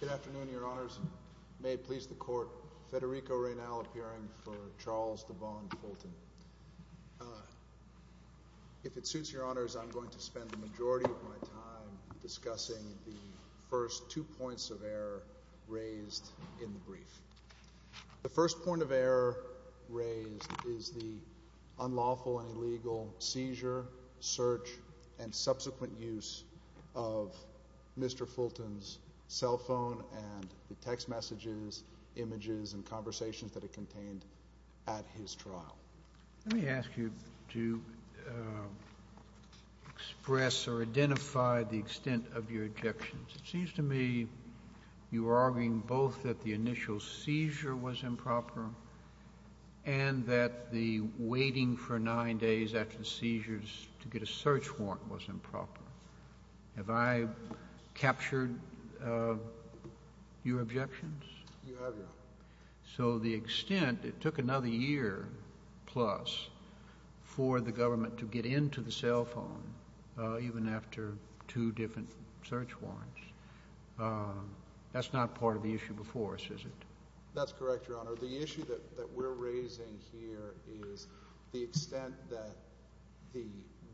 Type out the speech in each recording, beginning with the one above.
Good afternoon, Your Honors. May it please the Court, Federico Reynal appearing for Charles Devon Fulton. If it suits Your Honors, I'm going to spend the majority of my time discussing the first two points of error raised in the brief. The first point of error raised is the unlawful and illegal seizure, search, and subsequent use of Mr. Fulton's cell phone and the text messages, images, and conversations that are contained at his trial. Let me ask you to express or identify the extent of your objections. It seems to me you were arguing both that the initial seizure was improper and that the waiting for nine days after seizures to get a search warrant was improper. Have I captured your objections? You have, Your Honor. So the extent—it took another year plus for the government to get into the cell phone, even after two different search warrants. That's not part of the issue before us, is it? That's correct, Your Honor. The issue that we're raising here is the extent that the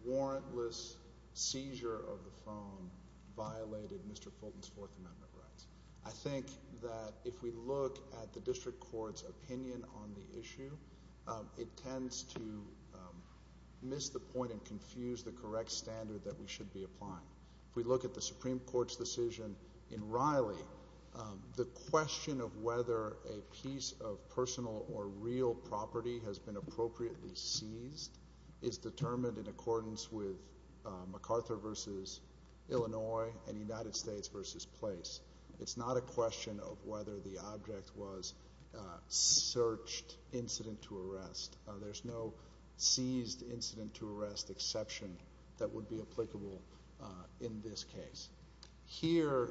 warrantless seizure of the phone violated Mr. Fulton's Fourth Amendment rights. I think that if we look at the district court's opinion on the issue, it tends to miss the point and confuse the correct standard that we should be applying. If we look at the Supreme Court's decision in Riley, the question of whether a piece of personal or real property has been appropriately seized is determined in accordance with MacArthur v. Illinois and United States v. Place. It's not a question of whether the object was a searched incident to arrest. There's no seized incident to arrest exception that would be applicable in this case. Here,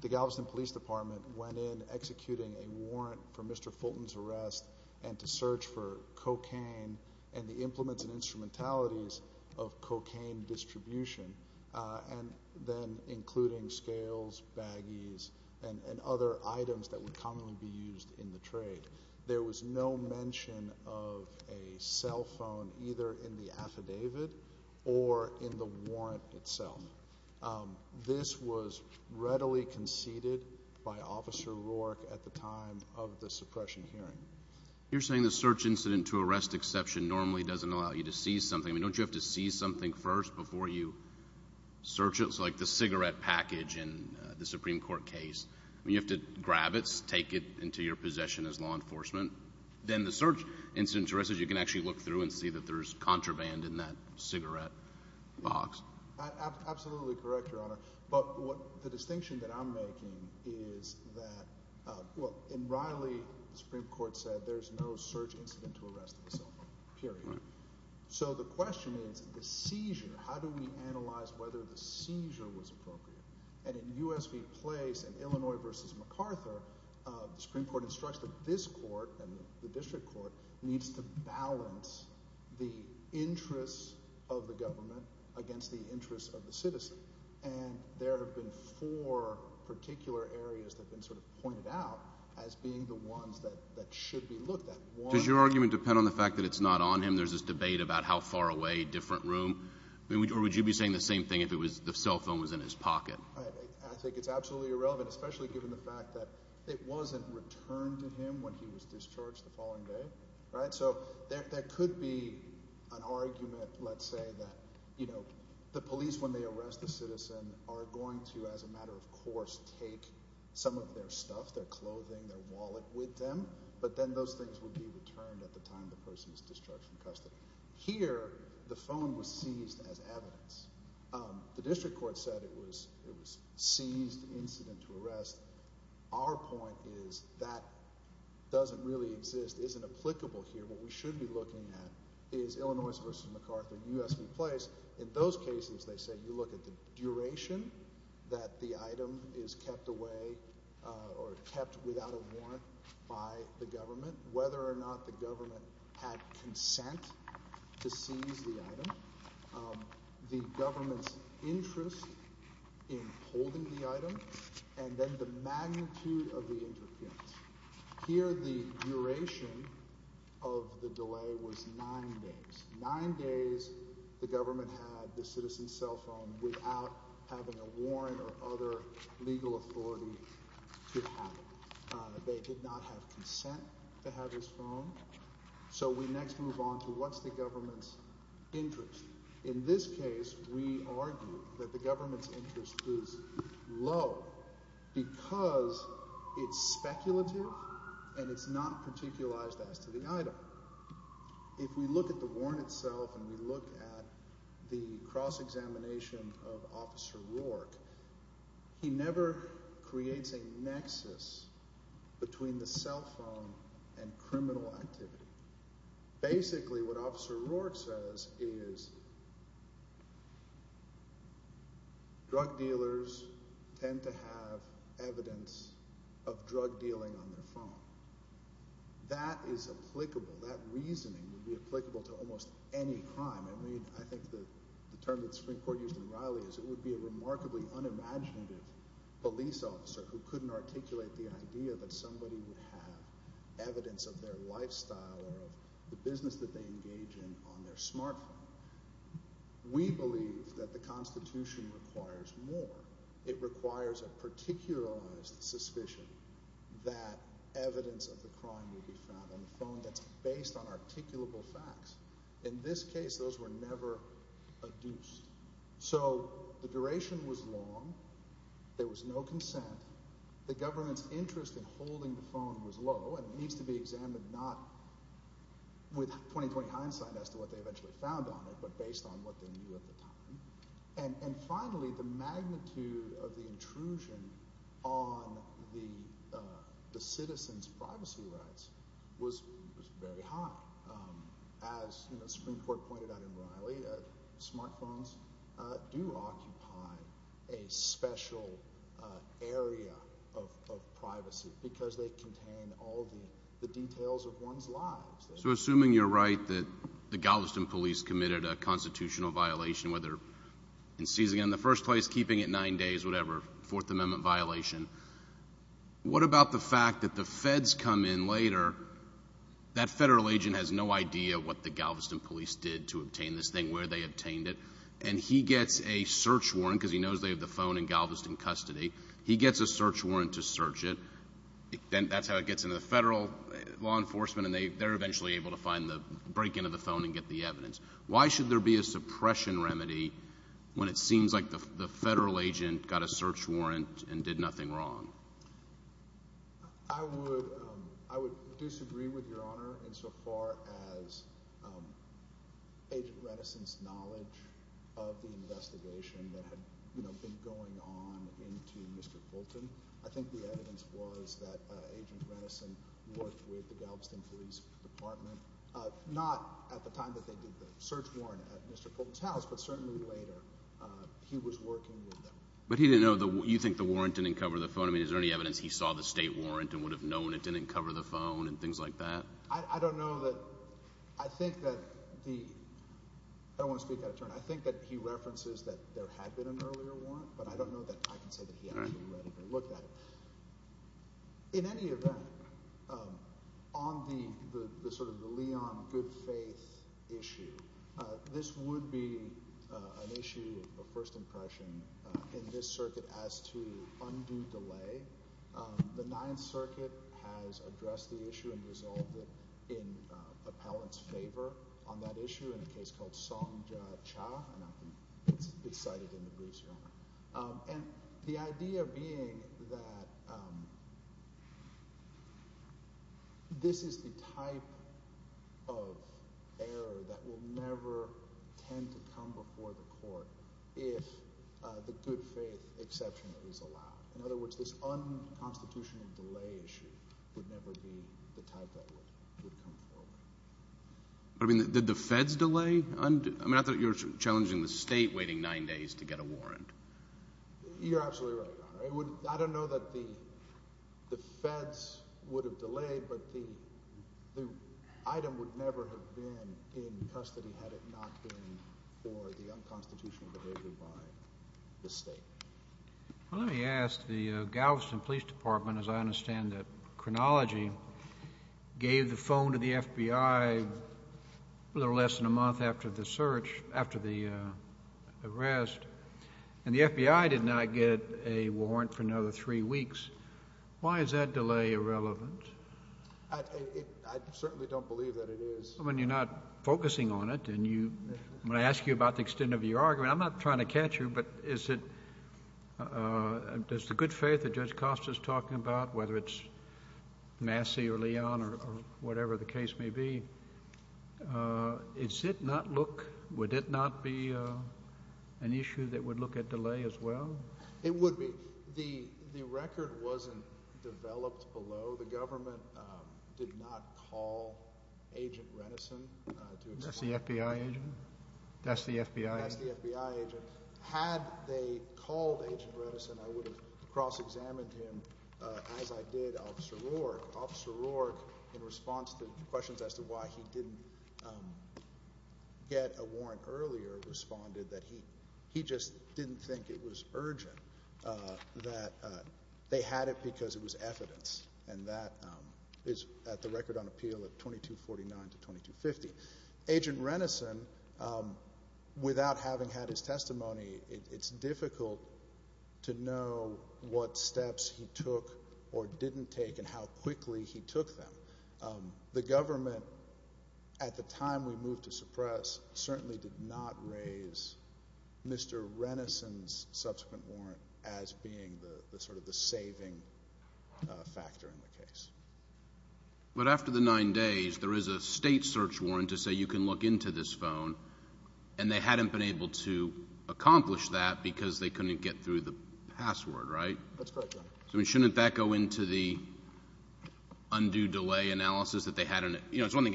the Galveston Police Department went in executing a warrant for Mr. Fulton's arrest and to search for cocaine and the implements and instrumentalities of cocaine distribution, and then including scales, baggies, and other items that would commonly be used in the trade. There was no mention of a cell phone either in the affidavit or in the warrant itself. This was readily conceded by Officer Rourke at the time of the suppression hearing. You're saying the search incident to arrest exception normally doesn't allow you to seize something. I mean, don't you have to seize something first before you search it? Like the cigarette package in the Supreme Court case. You have to grab it, take it into your possession as law enforcement. Then the search incident to arrest it, you can actually look through and see that there's contraband in that cigarette box. Absolutely correct, Your Honor. But the distinction that I'm making is that in Riley, the Supreme Court said there's no search incident to arrest the cell phone, period. So the question is the seizure. How do we analyze whether the seizure was appropriate? And in U.S. v. Place and Illinois v. MacArthur, the Supreme Court instructs that this court and the district court needs to balance the interests of the government against the interests of the citizen. And there have been four particular areas that have been sort of pointed out as being the ones that should be looked at. Does your argument depend on the fact that it's not on him? There's this debate about how far away, different room. Or would you be saying the same thing if the cell phone was in his pocket? I think it's absolutely irrelevant, especially given the fact that it wasn't returned to him when he was discharged the following day. So there could be an argument, let's say, that the police, when they arrest a citizen, are going to, as a matter of course, take some of their stuff, their clothing, their wallet with them. But then those things would be returned at the time the person is discharged from custody. Here, the phone was seized as evidence. The district court said it was a seized incident to arrest. Our point is that doesn't really exist, isn't applicable here. What we should be looking at is Illinois v. MacArthur and U.S. v. Place. In those cases, they say you look at the duration that the item is kept away or kept without a warrant by the government, whether or not the government had consent to seize the item, the government's interest in holding the item, and then the magnitude of the interference. Here, the duration of the delay was nine days. Nine days the government had the citizen's cell phone without having a warrant or other legal authority to have it. They did not have consent to have his phone. So we next move on to what's the government's interest. In this case, we argue that the government's interest is low because it's speculative and it's not particularized as to the item. If we look at the warrant itself and we look at the cross-examination of Officer Rourke, he never creates a nexus between the cell phone and criminal activity. Basically, what Officer Rourke says is drug dealers tend to have evidence of drug dealing on their phone. That is applicable. That reasoning would be applicable to almost any crime. I mean, I think the term that the Supreme Court used in Riley is it would be a remarkably unimaginative police officer who couldn't articulate the idea that somebody would have evidence of their lifestyle or of the business that they engage in on their smartphone. We believe that the Constitution requires more. It requires a particularized suspicion that evidence of the crime would be found on the phone that's based on articulable facts. In this case, those were never adduced. So the duration was long. There was no consent. The government's interest in holding the phone was low and needs to be examined not with 20-20 hindsight as to what they eventually found on it but based on what they knew at the time. And finally, the magnitude of the intrusion on the citizen's privacy rights was very high. As the Supreme Court pointed out in Riley, smartphones do occupy a special area of privacy because they contain all the details of one's life. So assuming you're right that the Galveston police committed a constitutional violation, whether in seizing it in the first place, keeping it nine days, whatever, Fourth Amendment violation, what about the fact that the feds come in later, that federal agent has no idea what the Galveston police did to obtain this thing, where they obtained it, and he gets a search warrant because he knows they have the phone in Galveston custody. He gets a search warrant to search it. Then that's how it gets into the federal law enforcement, and they're eventually able to find the break-in of the phone and get the evidence. Why should there be a suppression remedy when it seems like the federal agent got a search warrant and did nothing wrong? I would disagree with Your Honor insofar as Agent Renison's knowledge of the investigation that had been going on into Mr. Fulton. I think the evidence was that Agent Renison worked with the Galveston police department, not at the time that they did the search warrant at Mr. Fulton's house, but certainly later. He was working with them. But he didn't know the – you think the warrant didn't cover the phone? I mean is there any evidence he saw the state warrant and would have known it didn't cover the phone and things like that? I don't know that – I think that the – I don't want to speak out of turn. I think that he references that there had been an earlier warrant, but I don't know that – I can say that he actually read it or looked at it. In any event, on the sort of the Leon good-faith issue, this would be an issue of first impression in this circuit as to undue delay. The Ninth Circuit has addressed the issue and resolved it in appellant's favor on that issue in a case called Songja Cha, and it's cited in the briefs, Your Honor. And the idea being that this is the type of error that will never tend to come before the court if the good-faith exception is allowed. In other words, this unconstitutional delay issue would never be the type that would come forward. I mean did the feds delay? I mean I thought you were challenging the state waiting nine days to get a warrant. You're absolutely right, Your Honor. I don't know that the feds would have delayed, but the item would never have been in custody had it not been for the unconstitutional behavior by the state. Well, let me ask the Galveston Police Department, as I understand the chronology, gave the phone to the FBI a little less than a month after the search, after the arrest, and the FBI did not get a warrant for another three weeks. Why is that delay irrelevant? I certainly don't believe that it is. I mean you're not focusing on it, and I'm going to ask you about the extent of your argument. I'm not trying to catch you, but does the good faith that Judge Costa is talking about, whether it's Massey or Leon or whatever the case may be, would it not be an issue that would look at delay as well? It would be. The record wasn't developed below. So the government did not call Agent Renneson to explain? That's the FBI agent. That's the FBI agent? That's the FBI agent. Had they called Agent Renneson, I would have cross-examined him, as I did Officer Roark. Officer Roark, in response to questions as to why he didn't get a warrant earlier, responded that he just didn't think it was urgent, that they had it because it was evidence. And that is at the record on appeal at 2249 to 2250. Agent Renneson, without having had his testimony, it's difficult to know what steps he took or didn't take and how quickly he took them. The government, at the time we moved to suppress, certainly did not raise Mr. Renneson's subsequent warrant as being sort of the saving factor in the case. But after the nine days, there is a state search warrant to say you can look into this phone, and they hadn't been able to accomplish that because they couldn't get through the password, right? That's correct, yeah. Shouldn't that go into the undue delay analysis that they had? It's one thing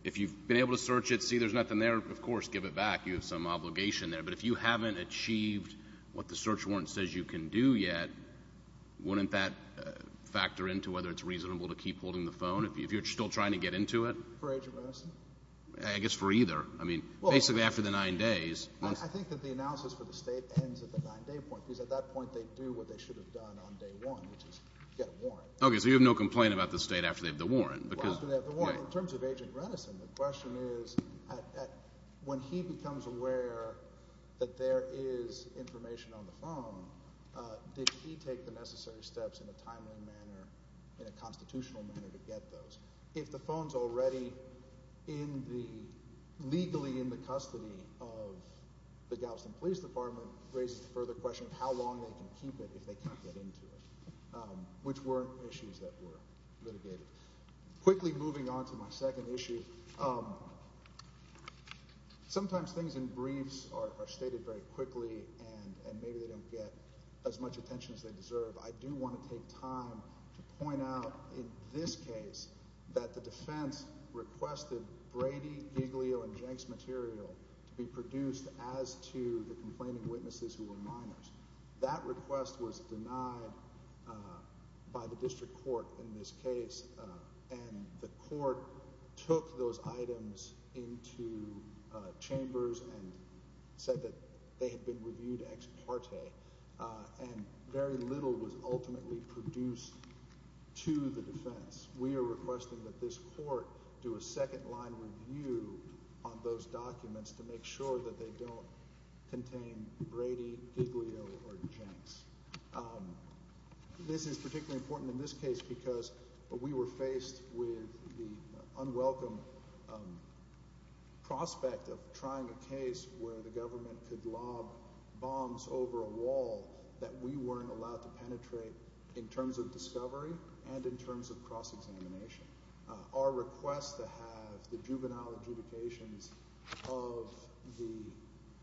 if you've been able to search it, see there's nothing there, of course give it back. You have some obligation there. But if you haven't achieved what the search warrant says you can do yet, wouldn't that factor into whether it's reasonable to keep holding the phone if you're still trying to get into it? For Agent Renneson? I guess for either. I mean, basically after the nine days. I think that the analysis for the state ends at the nine-day point, because at that point they do what they should have done on day one, which is get a warrant. Okay, so you have no complaint about the state after they have the warrant. In terms of Agent Renneson, the question is when he becomes aware that there is information on the phone, did he take the necessary steps in a timely manner, in a constitutional manner to get those? If the phone's already legally in the custody of the Galveston Police Department, raises the further question of how long they can keep it if they can't get into it, which were issues that were litigated. Quickly moving on to my second issue, sometimes things in briefs are stated very quickly and maybe they don't get as much attention as they deserve. I do want to take time to point out in this case that the defense requested Brady, Giglio, and Jenks material to be produced as to the complaining witnesses who were minors. That request was denied by the district court in this case, and the court took those items into chambers and said that they had been reviewed ex parte, and very little was ultimately produced to the defense. We are requesting that this court do a second line review on those documents to make sure that they don't contain Brady, Giglio, or Jenks. This is particularly important in this case because we were faced with the unwelcome prospect of trying a case where the government could lob bombs over a wall that we weren't allowed to penetrate in terms of discovery and in terms of cross-examination. Our request to have the juvenile adjudications of the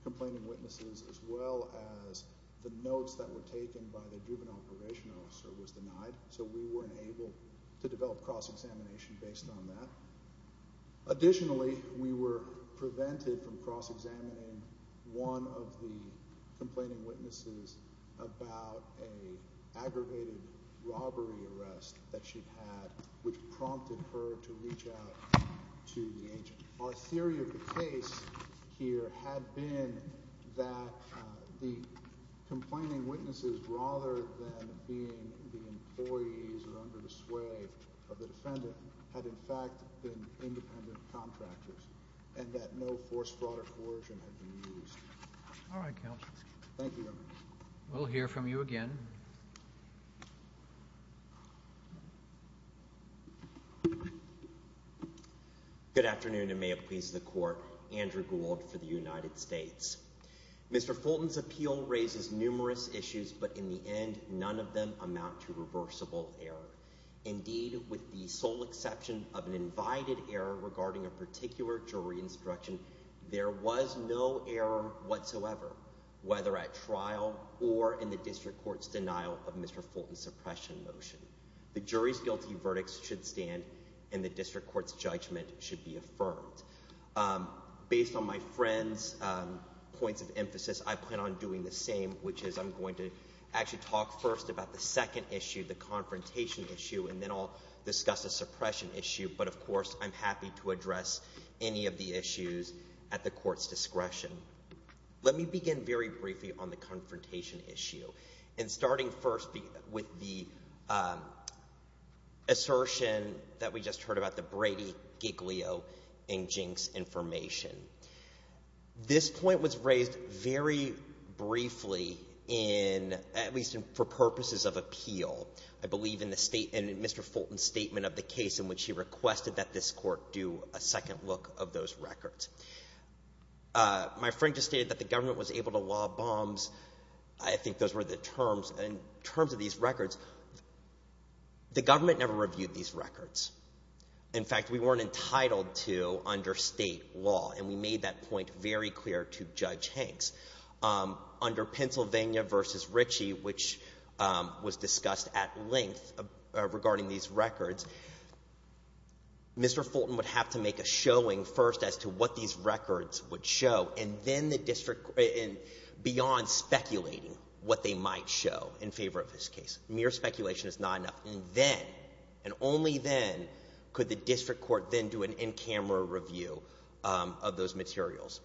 complaining witnesses as well as the notes that were taken by the juvenile probation officer was denied, so we weren't able to develop cross-examination based on that. Additionally, we were prevented from cross-examining one of the complaining witnesses about an aggravated robbery arrest that she had, which prompted her to reach out to the agent. Our theory of the case here had been that the complaining witnesses, rather than being the employees or under the sway of the defendant, had in fact been independent contractors, and that no force, fraud, or coercion had been used. All right, counsel. Thank you. We'll hear from you again. Thank you. Good afternoon, and may it please the court. Andrew Gould for the United States. Mr. Fulton's appeal raises numerous issues, but in the end, none of them amount to reversible error. Indeed, with the sole exception of an invited error regarding a particular jury instruction, there was no error whatsoever, whether at trial or in the district court's denial of Mr. Fulton's suppression motion. The jury's guilty verdicts should stand, and the district court's judgment should be affirmed. Based on my friend's points of emphasis, I plan on doing the same, which is I'm going to actually talk first about the second issue, the confrontation issue, and then I'll discuss the suppression issue. But, of course, I'm happy to address any of the issues at the court's discretion. Let me begin very briefly on the confrontation issue. And starting first with the assertion that we just heard about, the Brady, Giglio, and Jinks information. This point was raised very briefly in, at least for purposes of appeal, I believe, in Mr. Fulton's statement of the case in which he requested that this court do a second look of those records. My friend just stated that the government was able to lob bombs. I think those were the terms. In terms of these records, the government never reviewed these records. In fact, we weren't entitled to under state law, and we made that point very clear to Judge Hanks. Under Pennsylvania v. Ritchie, which was discussed at length regarding these records, Mr. Fulton would have to make a showing first as to what these records would show, and then the district, beyond speculating what they might show in favor of this case. Mere speculation is not enough. And then, and only then, could the district court then do an in-camera review of those materials.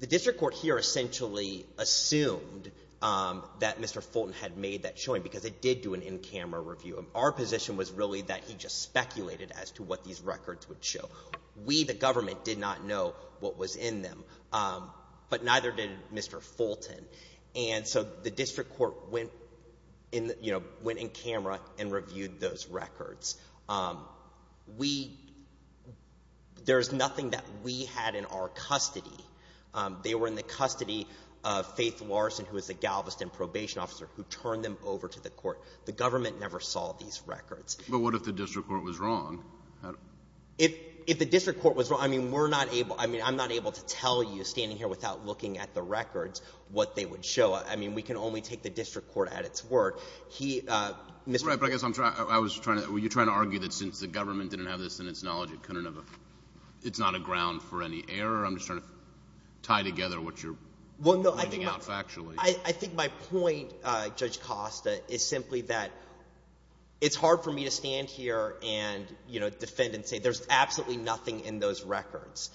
The district court here essentially assumed that Mr. Fulton had made that showing because it did do an in-camera review. Our position was really that he just speculated as to what these records would show. We, the government, did not know what was in them, but neither did Mr. Fulton. And so the district court went in camera and reviewed those records. We — there's nothing that we had in our custody. They were in the custody of Faith Larson, who was the Galveston probation officer, who turned them over to the court. The government never saw these records. But what if the district court was wrong? If the district court was wrong, I mean, we're not able — I mean, I'm not able to tell you, standing here without looking at the records, what they would show. I mean, we can only take the district court at its word. He — Right, but I guess I'm trying — I was trying to — well, you're trying to argue that since the government didn't have this in its knowledge, it couldn't have a — it's not a ground for any error? I'm just trying to tie together what you're pointing out factually. Well, no, I think my — I think my point, Judge Costa, is simply that it's hard for me to stand here and, you know, defend and say there's absolutely nothing in those records.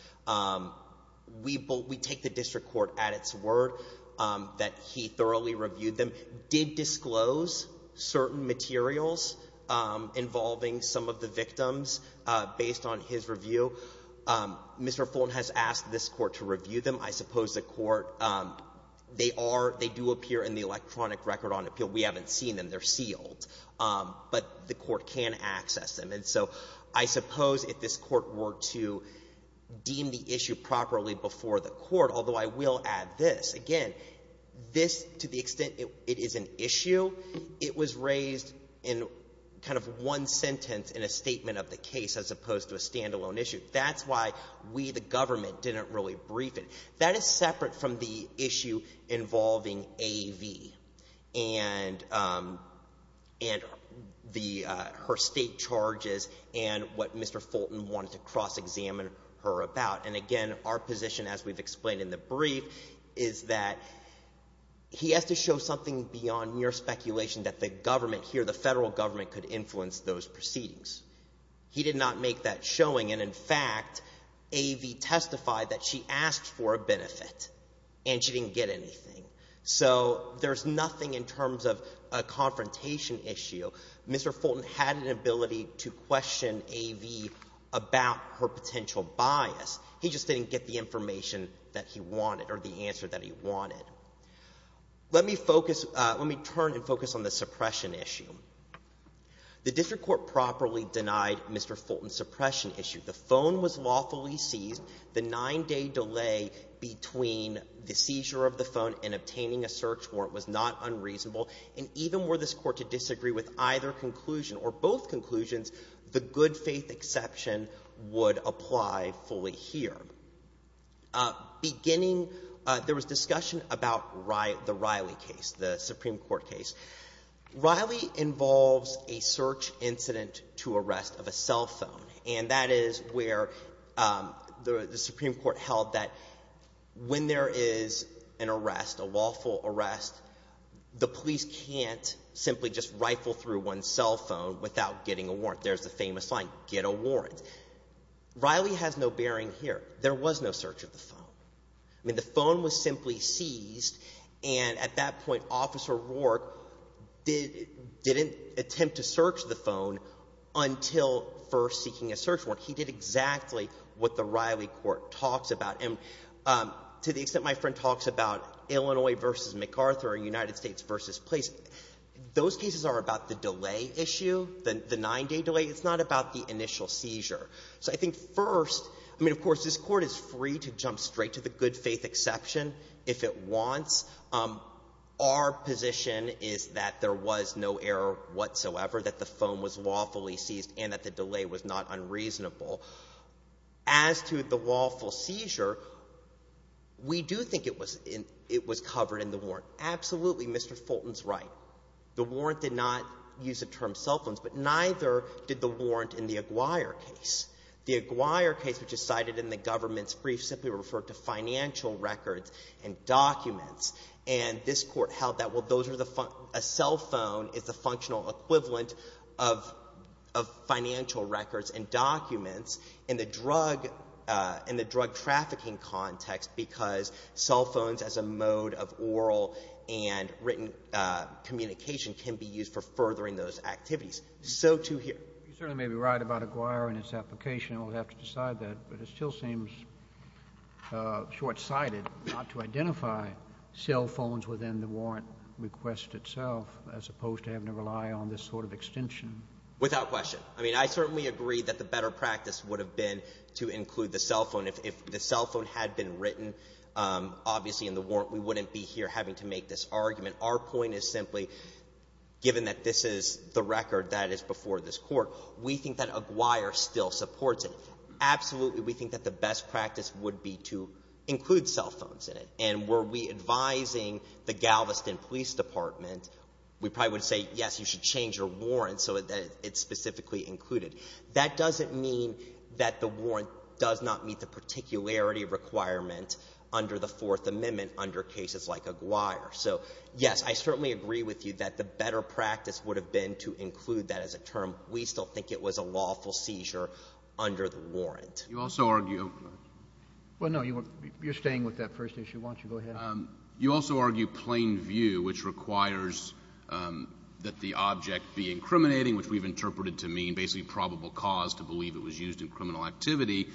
We take the district court at its word that he thoroughly reviewed them, did disclose certain materials involving some of the victims based on his review. Mr. Fulton has asked this court to review them. I suppose the court — they are — they do appear in the electronic record on appeal. We haven't seen them. They're sealed. But the court can access them. And so I suppose if this court were to deem the issue properly before the court, although I will add this. Again, this, to the extent it is an issue, it was raised in kind of one sentence in a statement of the case as opposed to a standalone issue. That's why we, the government, didn't really brief it. That is separate from the issue involving A.V. and her state charges and what Mr. Fulton wanted to cross-examine her about. And, again, our position, as we've explained in the brief, is that he has to show something beyond mere speculation that the government here, the federal government, could influence those proceedings. He did not make that showing. And, in fact, A.V. testified that she asked for a benefit and she didn't get anything. So there's nothing in terms of a confrontation issue. Mr. Fulton had an ability to question A.V. about her potential bias. He just didn't get the information that he wanted or the answer that he wanted. Let me focus — let me turn and focus on the suppression issue. The district court properly denied Mr. Fulton's suppression issue. The phone was lawfully seized. The nine-day delay between the seizure of the phone and obtaining a search warrant was not unreasonable. And even were this court to disagree with either conclusion or both conclusions, the good-faith exception would apply fully here. Beginning — there was discussion about the Riley case, the Supreme Court case. Riley involves a search incident to arrest of a cell phone, and that is where the Supreme Court held that when there is an arrest, a lawful arrest, the police can't simply just rifle through one's cell phone without getting a warrant. There's the famous line, get a warrant. Riley has no bearing here. I mean, the phone was simply seized, and at that point, Officer Rourke didn't attempt to search the phone until first seeking a search warrant. He did exactly what the Riley court talks about. And to the extent my friend talks about Illinois v. MacArthur and United States v. place, those cases are about the delay issue, the nine-day delay. It's not about the initial seizure. So I think first — I mean, of course, this Court is free to jump straight to the good-faith exception if it wants. Our position is that there was no error whatsoever, that the phone was lawfully seized, and that the delay was not unreasonable. As to the lawful seizure, we do think it was — it was covered in the warrant. Absolutely, Mr. Fulton's right. The warrant did not use the term cell phones, but neither did the warrant in the Aguirre case. The Aguirre case, which is cited in the government's brief, simply referred to financial records and documents. And this Court held that, well, those are the — a cell phone is the functional equivalent of financial records and documents in the drug — in the drug trafficking context because cell phones as a mode of oral and written communication can be used for furthering those activities. So, too, here. You certainly may be right about Aguirre and its application. We'll have to decide that. But it still seems short-sighted not to identify cell phones within the warrant request itself, as opposed to having to rely on this sort of extension. Without question. I mean, I certainly agree that the better practice would have been to include the cell phone. If the cell phone had been written, obviously, in the warrant, we wouldn't be here having to make this argument. Our point is simply, given that this is the record that is before this Court, we think that Aguirre still supports it. Absolutely, we think that the best practice would be to include cell phones in it. And were we advising the Galveston Police Department, we probably would say, yes, you should change your warrant so that it's specifically included. That doesn't mean that the warrant does not meet the particularity requirement under the Fourth Amendment under cases like Aguirre. So, yes, I certainly agree with you that the better practice would have been to include that as a term. We still think it was a lawful seizure under the warrant. You also argue – Well, no, you're staying with that first issue. Why don't you go ahead? You also argue plain view, which requires that the object be incriminating, which we've interpreted to mean basically probable cause to believe it was used in criminal activity.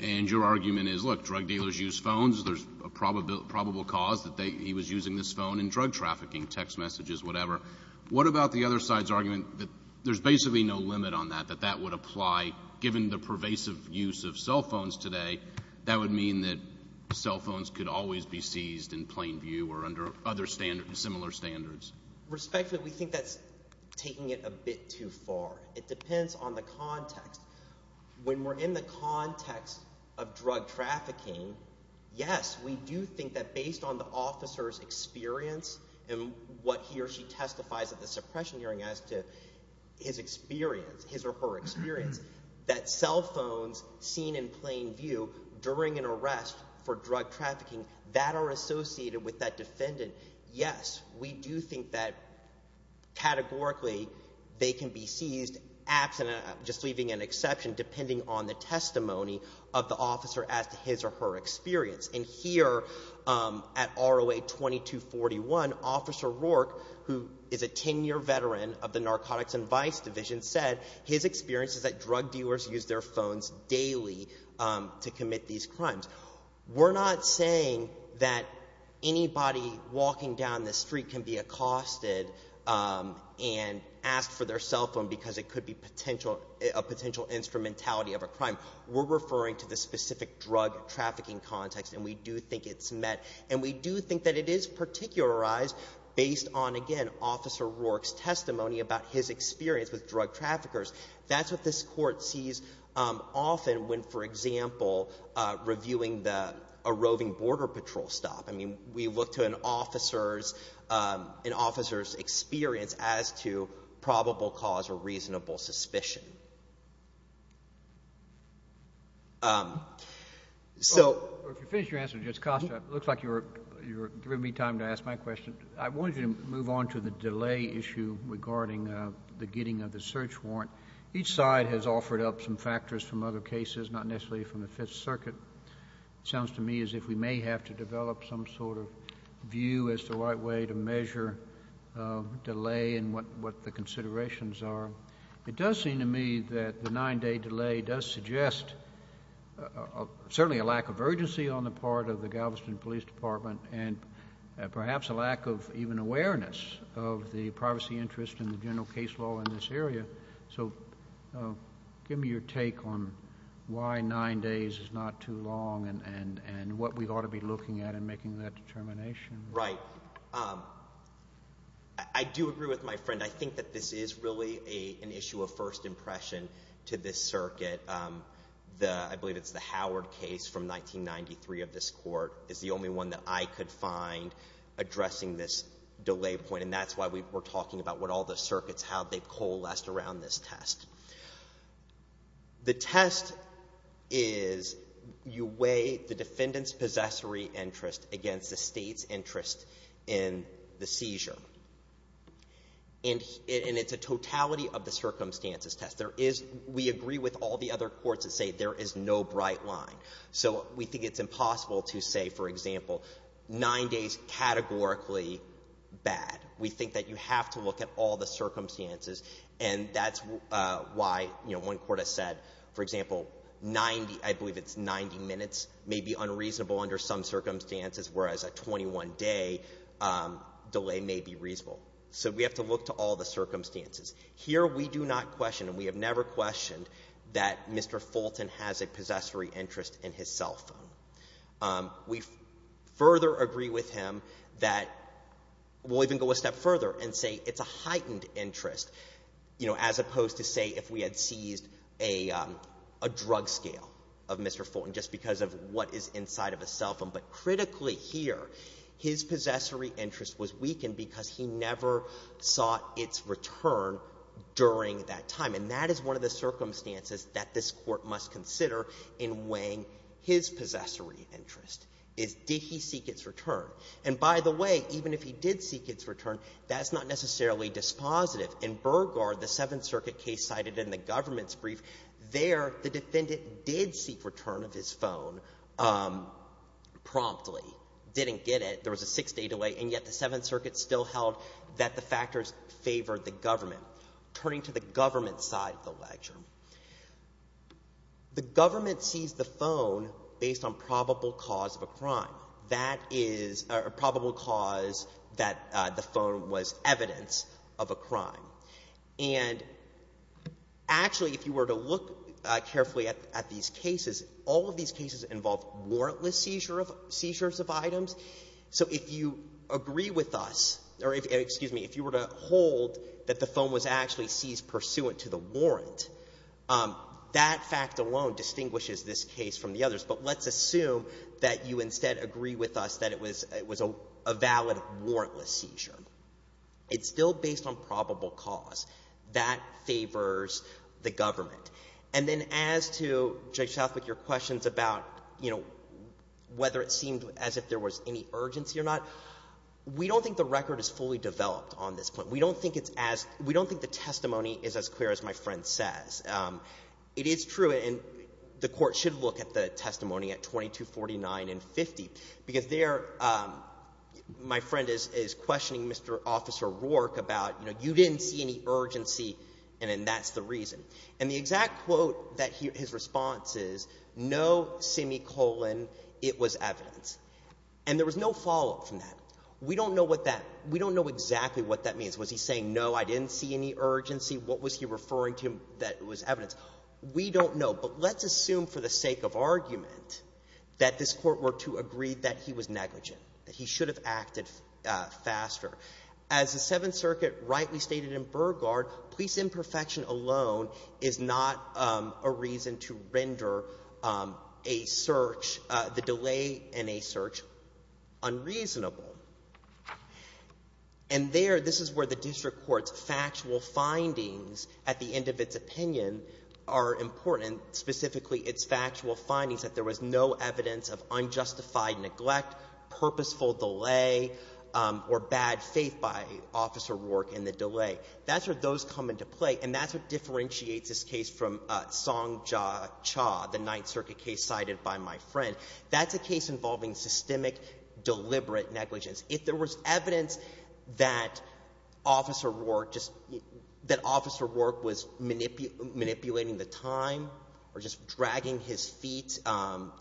And your argument is, look, drug dealers use phones. There's a probable cause that he was using this phone in drug trafficking, text messages, whatever. What about the other side's argument that there's basically no limit on that, that that would apply given the pervasive use of cell phones today? That would mean that cell phones could always be seized in plain view or under other similar standards. Respectfully, we think that's taking it a bit too far. It depends on the context. When we're in the context of drug trafficking, yes, we do think that based on the officer's experience and what he or she testifies at the suppression hearing as to his experience, his or her experience, that cell phones seen in plain view during an arrest for drug trafficking, that are associated with that defendant. Yes, we do think that categorically they can be seized, just leaving an exception depending on the testimony of the officer as to his or her experience. And here at ROA 2241, Officer Rourke, who is a ten-year veteran of the Narcotics Advice Division, said his experience is that drug dealers use their phones daily to commit these crimes. We're not saying that anybody walking down the street can be accosted and asked for their cell phone because it could be a potential instrumentality of a crime. We're referring to the specific drug trafficking context, and we do think it's met. And we do think that it is particularized based on, again, Officer Rourke's testimony about his experience with drug traffickers. That's what this Court sees often when, for example, reviewing a roving border patrol stop. I mean we look to an officer's experience as to probable cause or reasonable suspicion. If you finish your answer, Judge Costa, it looks like you're giving me time to ask my question. I wanted you to move on to the delay issue regarding the getting of the search warrant. Each side has offered up some factors from other cases, not necessarily from the Fifth Circuit. It sounds to me as if we may have to develop some sort of view as the right way to measure delay and what the considerations are. It does seem to me that the nine-day delay does suggest certainly a lack of urgency on the part of the Galveston Police Department and perhaps a lack of even awareness of the privacy interest in the general case law in this area. So give me your take on why nine days is not too long and what we ought to be looking at in making that determination. Right. Well, I do agree with my friend. I think that this is really an issue of first impression to this circuit. I believe it's the Howard case from 1993 of this Court is the only one that I could find addressing this delay point, and that's why we're talking about what all the circuits, how they coalesced around this test. The test is you weigh the defendant's possessory interest against the State's interest in the seizure. And it's a totality of the circumstances test. We agree with all the other courts that say there is no bright line. So we think it's impossible to say, for example, nine days categorically bad. We think that you have to look at all the circumstances, and that's why, you know, one court has said, for example, 90, I believe it's 90 minutes, may be unreasonable under some circumstances, whereas a 21-day delay may be reasonable. So we have to look to all the circumstances. Here we do not question and we have never questioned that Mr. Fulton has a possessory interest in his cell phone. We further agree with him that we'll even go a step further and say it's a heightened interest, you know, as opposed to say if we had seized a drug scale of Mr. Fulton just because of what is inside of his cell phone. But critically here, his possessory interest was weakened because he never saw its return during that time. And that is one of the circumstances that this Court must consider in weighing his possessory interest, is did he seek its return. And by the way, even if he did seek its return, that's not necessarily dispositive. In Burgard, the Seventh Circuit case cited in the government's brief, there the defendant did seek return of his phone promptly, didn't get it. There was a six-day delay, and yet the Seventh Circuit still held that the factors favored the government. Turning to the government side of the lecture, the government seized the phone based on probable cause of a crime. That is a probable cause that the phone was evidence of a crime. And actually, if you were to look carefully at these cases, all of these cases involved warrantless seizures of items. So if you agree with us, or excuse me, if you were to hold that the phone was actually seized pursuant to the warrant, that fact alone distinguishes this case from the others. But let's assume that you instead agree with us that it was a valid warrantless seizure. It's still based on probable cause. That favors the government. And then as to Judge Southwick, your questions about, you know, whether it seemed as if there was any urgency or not, we don't think the record is fully developed on this point. We don't think it's as — we don't think the testimony is as clear as my friend says. It is true, and the Court should look at the testimony at 2249 and 50, because there my friend is questioning Mr. Officer Rourke about, you know, you didn't see any urgency, and then that's the reason. And the exact quote that his response is, no semicolon, it was evidence. And there was no follow-up from that. We don't know what that — we don't know exactly what that means. Was he saying, no, I didn't see any urgency? What was he referring to that was evidence? We don't know. But let's assume for the sake of argument that this Court were to agree that he was negligent, that he should have acted faster. As the Seventh Circuit rightly stated in Burgard, police imperfection alone is not a reason to render a search, the delay in a search, unreasonable. And there, this is where the district court's factual findings at the end of its opinion are important, and specifically its factual findings, that there was no evidence of unjustified neglect, purposeful delay, or bad faith by Officer Rourke in the delay. That's where those come into play, and that's what differentiates this case from Song Cha, the Ninth Circuit case cited by my friend. That's a case involving systemic, deliberate negligence. If there was evidence that Officer Rourke just — that Officer Rourke was manipulating the time or just dragging his feet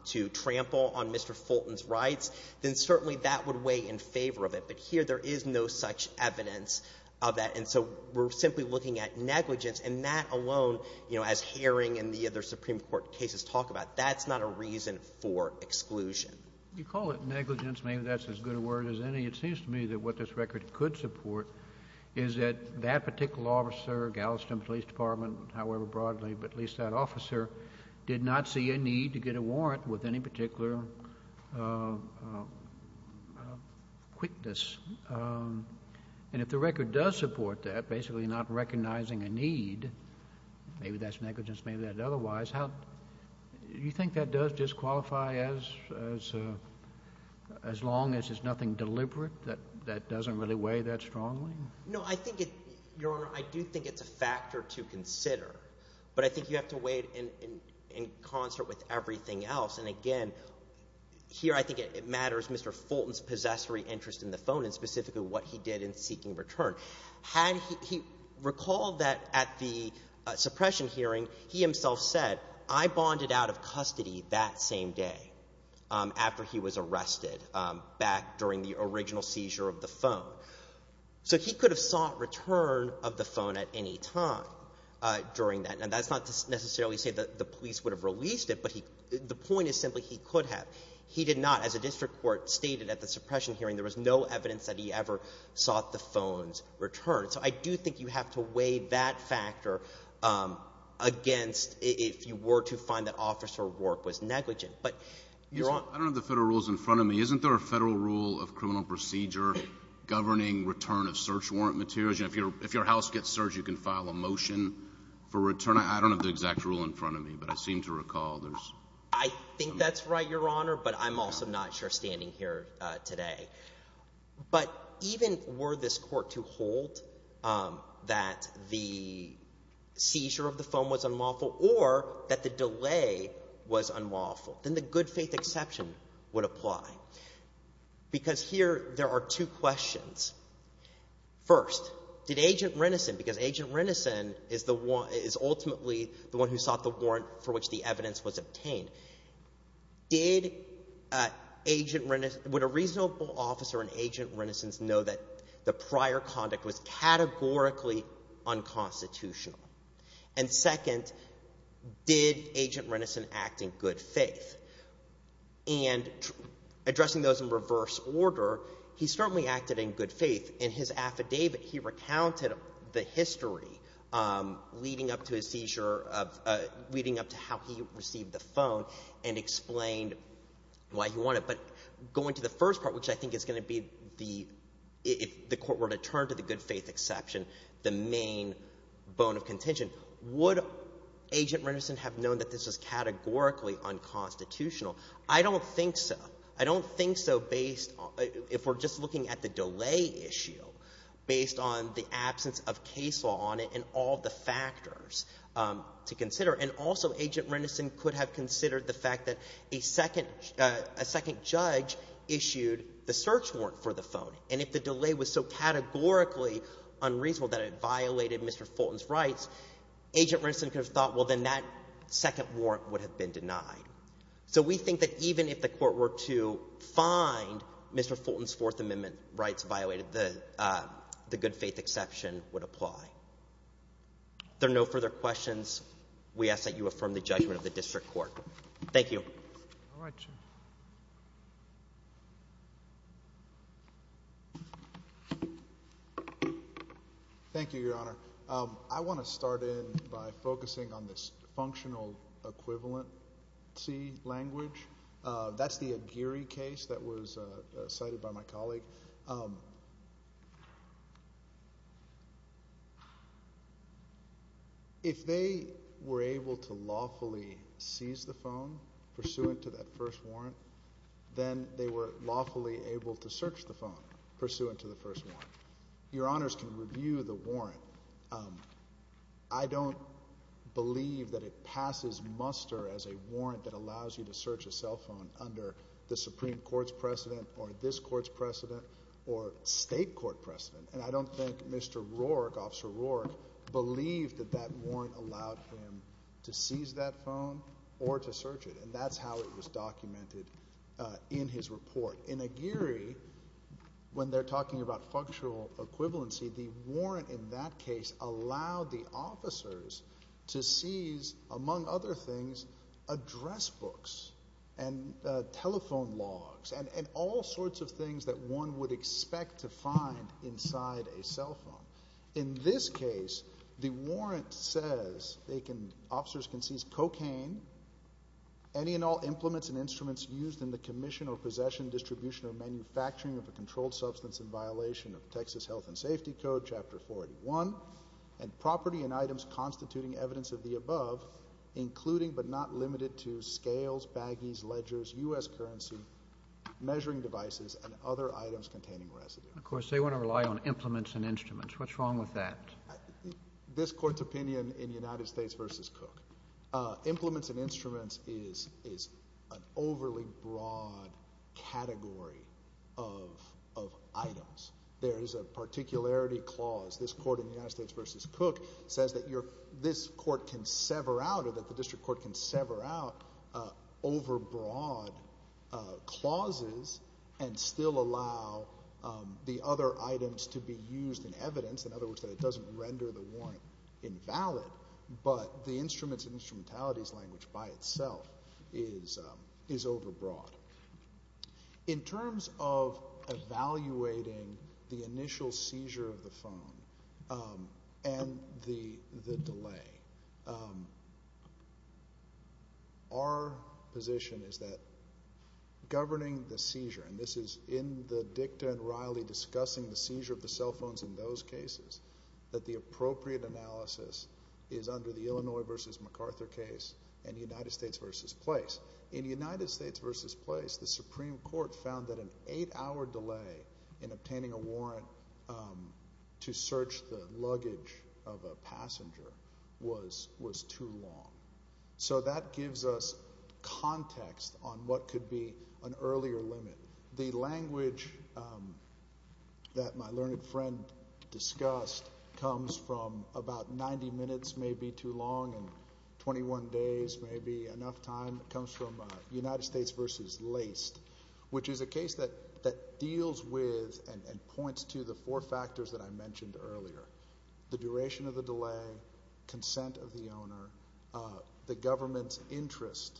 to trample on Mr. Fulton's rights, then certainly that would weigh in favor of it. But here there is no such evidence of that. And so we're simply looking at negligence, and that alone, you know, as Herring and the other Supreme Court cases talk about, that's not a reason for exclusion. You call it negligence. Maybe that's as good a word as any. It seems to me that what this record could support is that that particular officer, Galveston Police Department, however broadly, but at least that officer, did not see a need to get a warrant with any particular quickness. And if the record does support that, basically not recognizing a need, maybe that's negligence, maybe that's otherwise, do you think that does disqualify as long as there's nothing deliberate that doesn't really weigh that strongly? No, I think it — Your Honor, I do think it's a factor to consider, but I think you have to weigh it in concert with everything else. And again, here I think it matters Mr. Fulton's possessory interest in the phone and specifically what he did in seeking return. Had he — recall that at the suppression hearing, he himself said, I bonded out of custody that same day after he was arrested, back during the original seizure of the phone. So he could have sought return of the phone at any time during that. And that's not to necessarily say that the police would have released it, but the point is simply he could have. He did not. As a district court stated at the suppression hearing, there was no evidence that he ever sought the phone's return. So I do think you have to weigh that factor against if you were to find that officer work was negligent. But, Your Honor — I don't have the Federal rules in front of me. Isn't there a Federal rule of criminal procedure governing return of search warrant materials? If your house gets searched, you can file a motion for return. I don't have the exact rule in front of me, but I seem to recall there's — I think that's right, Your Honor, but I'm also not surestanding here today. But even were this court to hold that the seizure of the phone was unlawful or that the delay was unlawful, then the good-faith exception would apply. Because here there are two questions. First, did Agent Renneson, because Agent Renneson is the one — is ultimately the one who sought the warrant for which the evidence was obtained. Did Agent — would a reasonable officer in Agent Renneson's know that the prior conduct was categorically unconstitutional? And second, did Agent Renneson act in good faith? And addressing those in reverse order, he certainly acted in good faith. In his affidavit, he recounted the history leading up to his seizure of — leading up to how he received the phone and explained why he wanted it. But going to the first part, which I think is going to be the — would Agent Renneson have known that this was categorically unconstitutional? I don't think so. I don't think so based on — if we're just looking at the delay issue, based on the absence of case law on it and all the factors to consider. And also, Agent Renneson could have considered the fact that a second judge issued the search warrant for the phone. And if the delay was so categorically unreasonable that it violated Mr. Fulton's rights, Agent Renneson could have thought, well, then that second warrant would have been denied. So we think that even if the court were to find Mr. Fulton's Fourth Amendment rights violated, the good faith exception would apply. If there are no further questions, we ask that you affirm the judgment of the district court. Thank you. All right, sir. Thank you, Your Honor. I want to start in by focusing on this functional equivalency language. That's the Aguirre case that was cited by my colleague. If they were able to lawfully seize the phone pursuant to that first warrant, then they were lawfully able to search the phone pursuant to the first warrant. Your Honors can review the warrant. I don't believe that it passes muster as a warrant that allows you to search a cell phone under the Supreme Court's precedent or this court's precedent or state court precedent. And I don't think Mr. Rourke, Officer Rourke, believed that that warrant allowed him to seize that phone or to search it. And that's how it was documented in his report. In Aguirre, when they're talking about functional equivalency, the warrant in that case allowed the officers to seize, among other things, address books. And telephone logs. And all sorts of things that one would expect to find inside a cell phone. In this case, the warrant says officers can seize cocaine, any and all implements and instruments used in the commission or possession, distribution, or manufacturing of a controlled substance in violation of Texas Health and Safety Code, Chapter 481, and property and items constituting evidence of the above, including but not limited to scales, baggies, ledgers, U.S. currency, measuring devices, and other items containing residue. Of course, they want to rely on implements and instruments. What's wrong with that? This court's opinion in United States v. Cook, implements and instruments is an overly broad category of items. There is a particularity clause. This court in United States v. Cook says that this court can sever out or that the district court can sever out overbroad clauses and still allow the other items to be used in evidence. In other words, that it doesn't render the warrant invalid. But the instruments and instrumentalities language by itself is overbroad. In terms of evaluating the initial seizure of the phone and the delay, our position is that governing the seizure, and this is in the dicta and Riley discussing the seizure of the cell phones in those cases, that the appropriate analysis is under the Illinois v. MacArthur case and United States v. Place. In United States v. Place, the Supreme Court found that an eight-hour delay in obtaining a warrant to search the luggage of a passenger was too long. So that gives us context on what could be an earlier limit. The language that my learned friend discussed comes from about 90 minutes may be too long and 21 days may be enough time comes from United States v. Laced, which is a case that deals with and points to the four factors that I mentioned earlier, the duration of the delay, consent of the owner, the government's interest.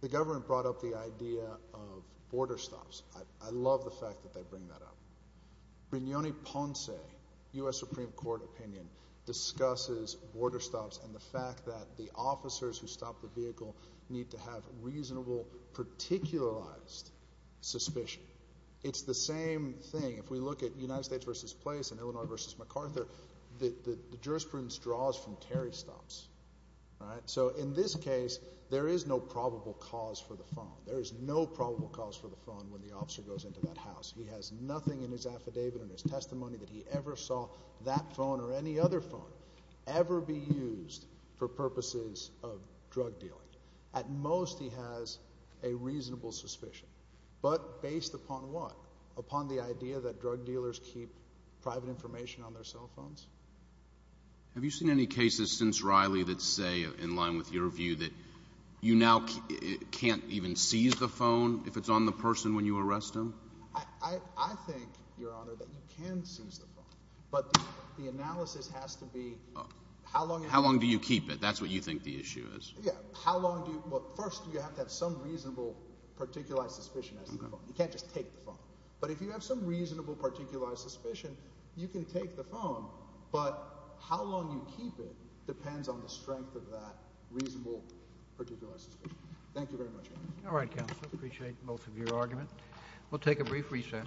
The government brought up the idea of border stops. I love the fact that they bring that up. Brignone-Ponce, U.S. Supreme Court opinion, discusses border stops and the fact that the officers who stop the vehicle need to have reasonable, particularized suspicion. It's the same thing. If we look at United States v. Place and Illinois v. MacArthur, the jurisprudence draws from Terry stops. So in this case, there is no probable cause for the phone. There is no probable cause for the phone when the officer goes into that house. He has nothing in his affidavit, in his testimony that he ever saw that phone or any other phone ever be used for purposes of drug dealing. At most, he has a reasonable suspicion. But based upon what? Upon the idea that drug dealers keep private information on their cell phones? Have you seen any cases since Riley that say, in line with your view, that you now can't even seize the phone if it's on the person when you arrest them? I think, Your Honor, that you can seize the phone. But the analysis has to be how long it has to be. How long do you keep it? That's what you think the issue is. Yeah. How long do you? Well, first, you have to have some reasonable, particularized suspicion as to the phone. You can't just take the phone. But if you have some reasonable, particularized suspicion, you can take the phone. But how long you keep it depends on the strength of that reasonable, particularized suspicion. Thank you very much, Your Honor. All right, counsel. I appreciate both of your arguments. We'll take a brief recess.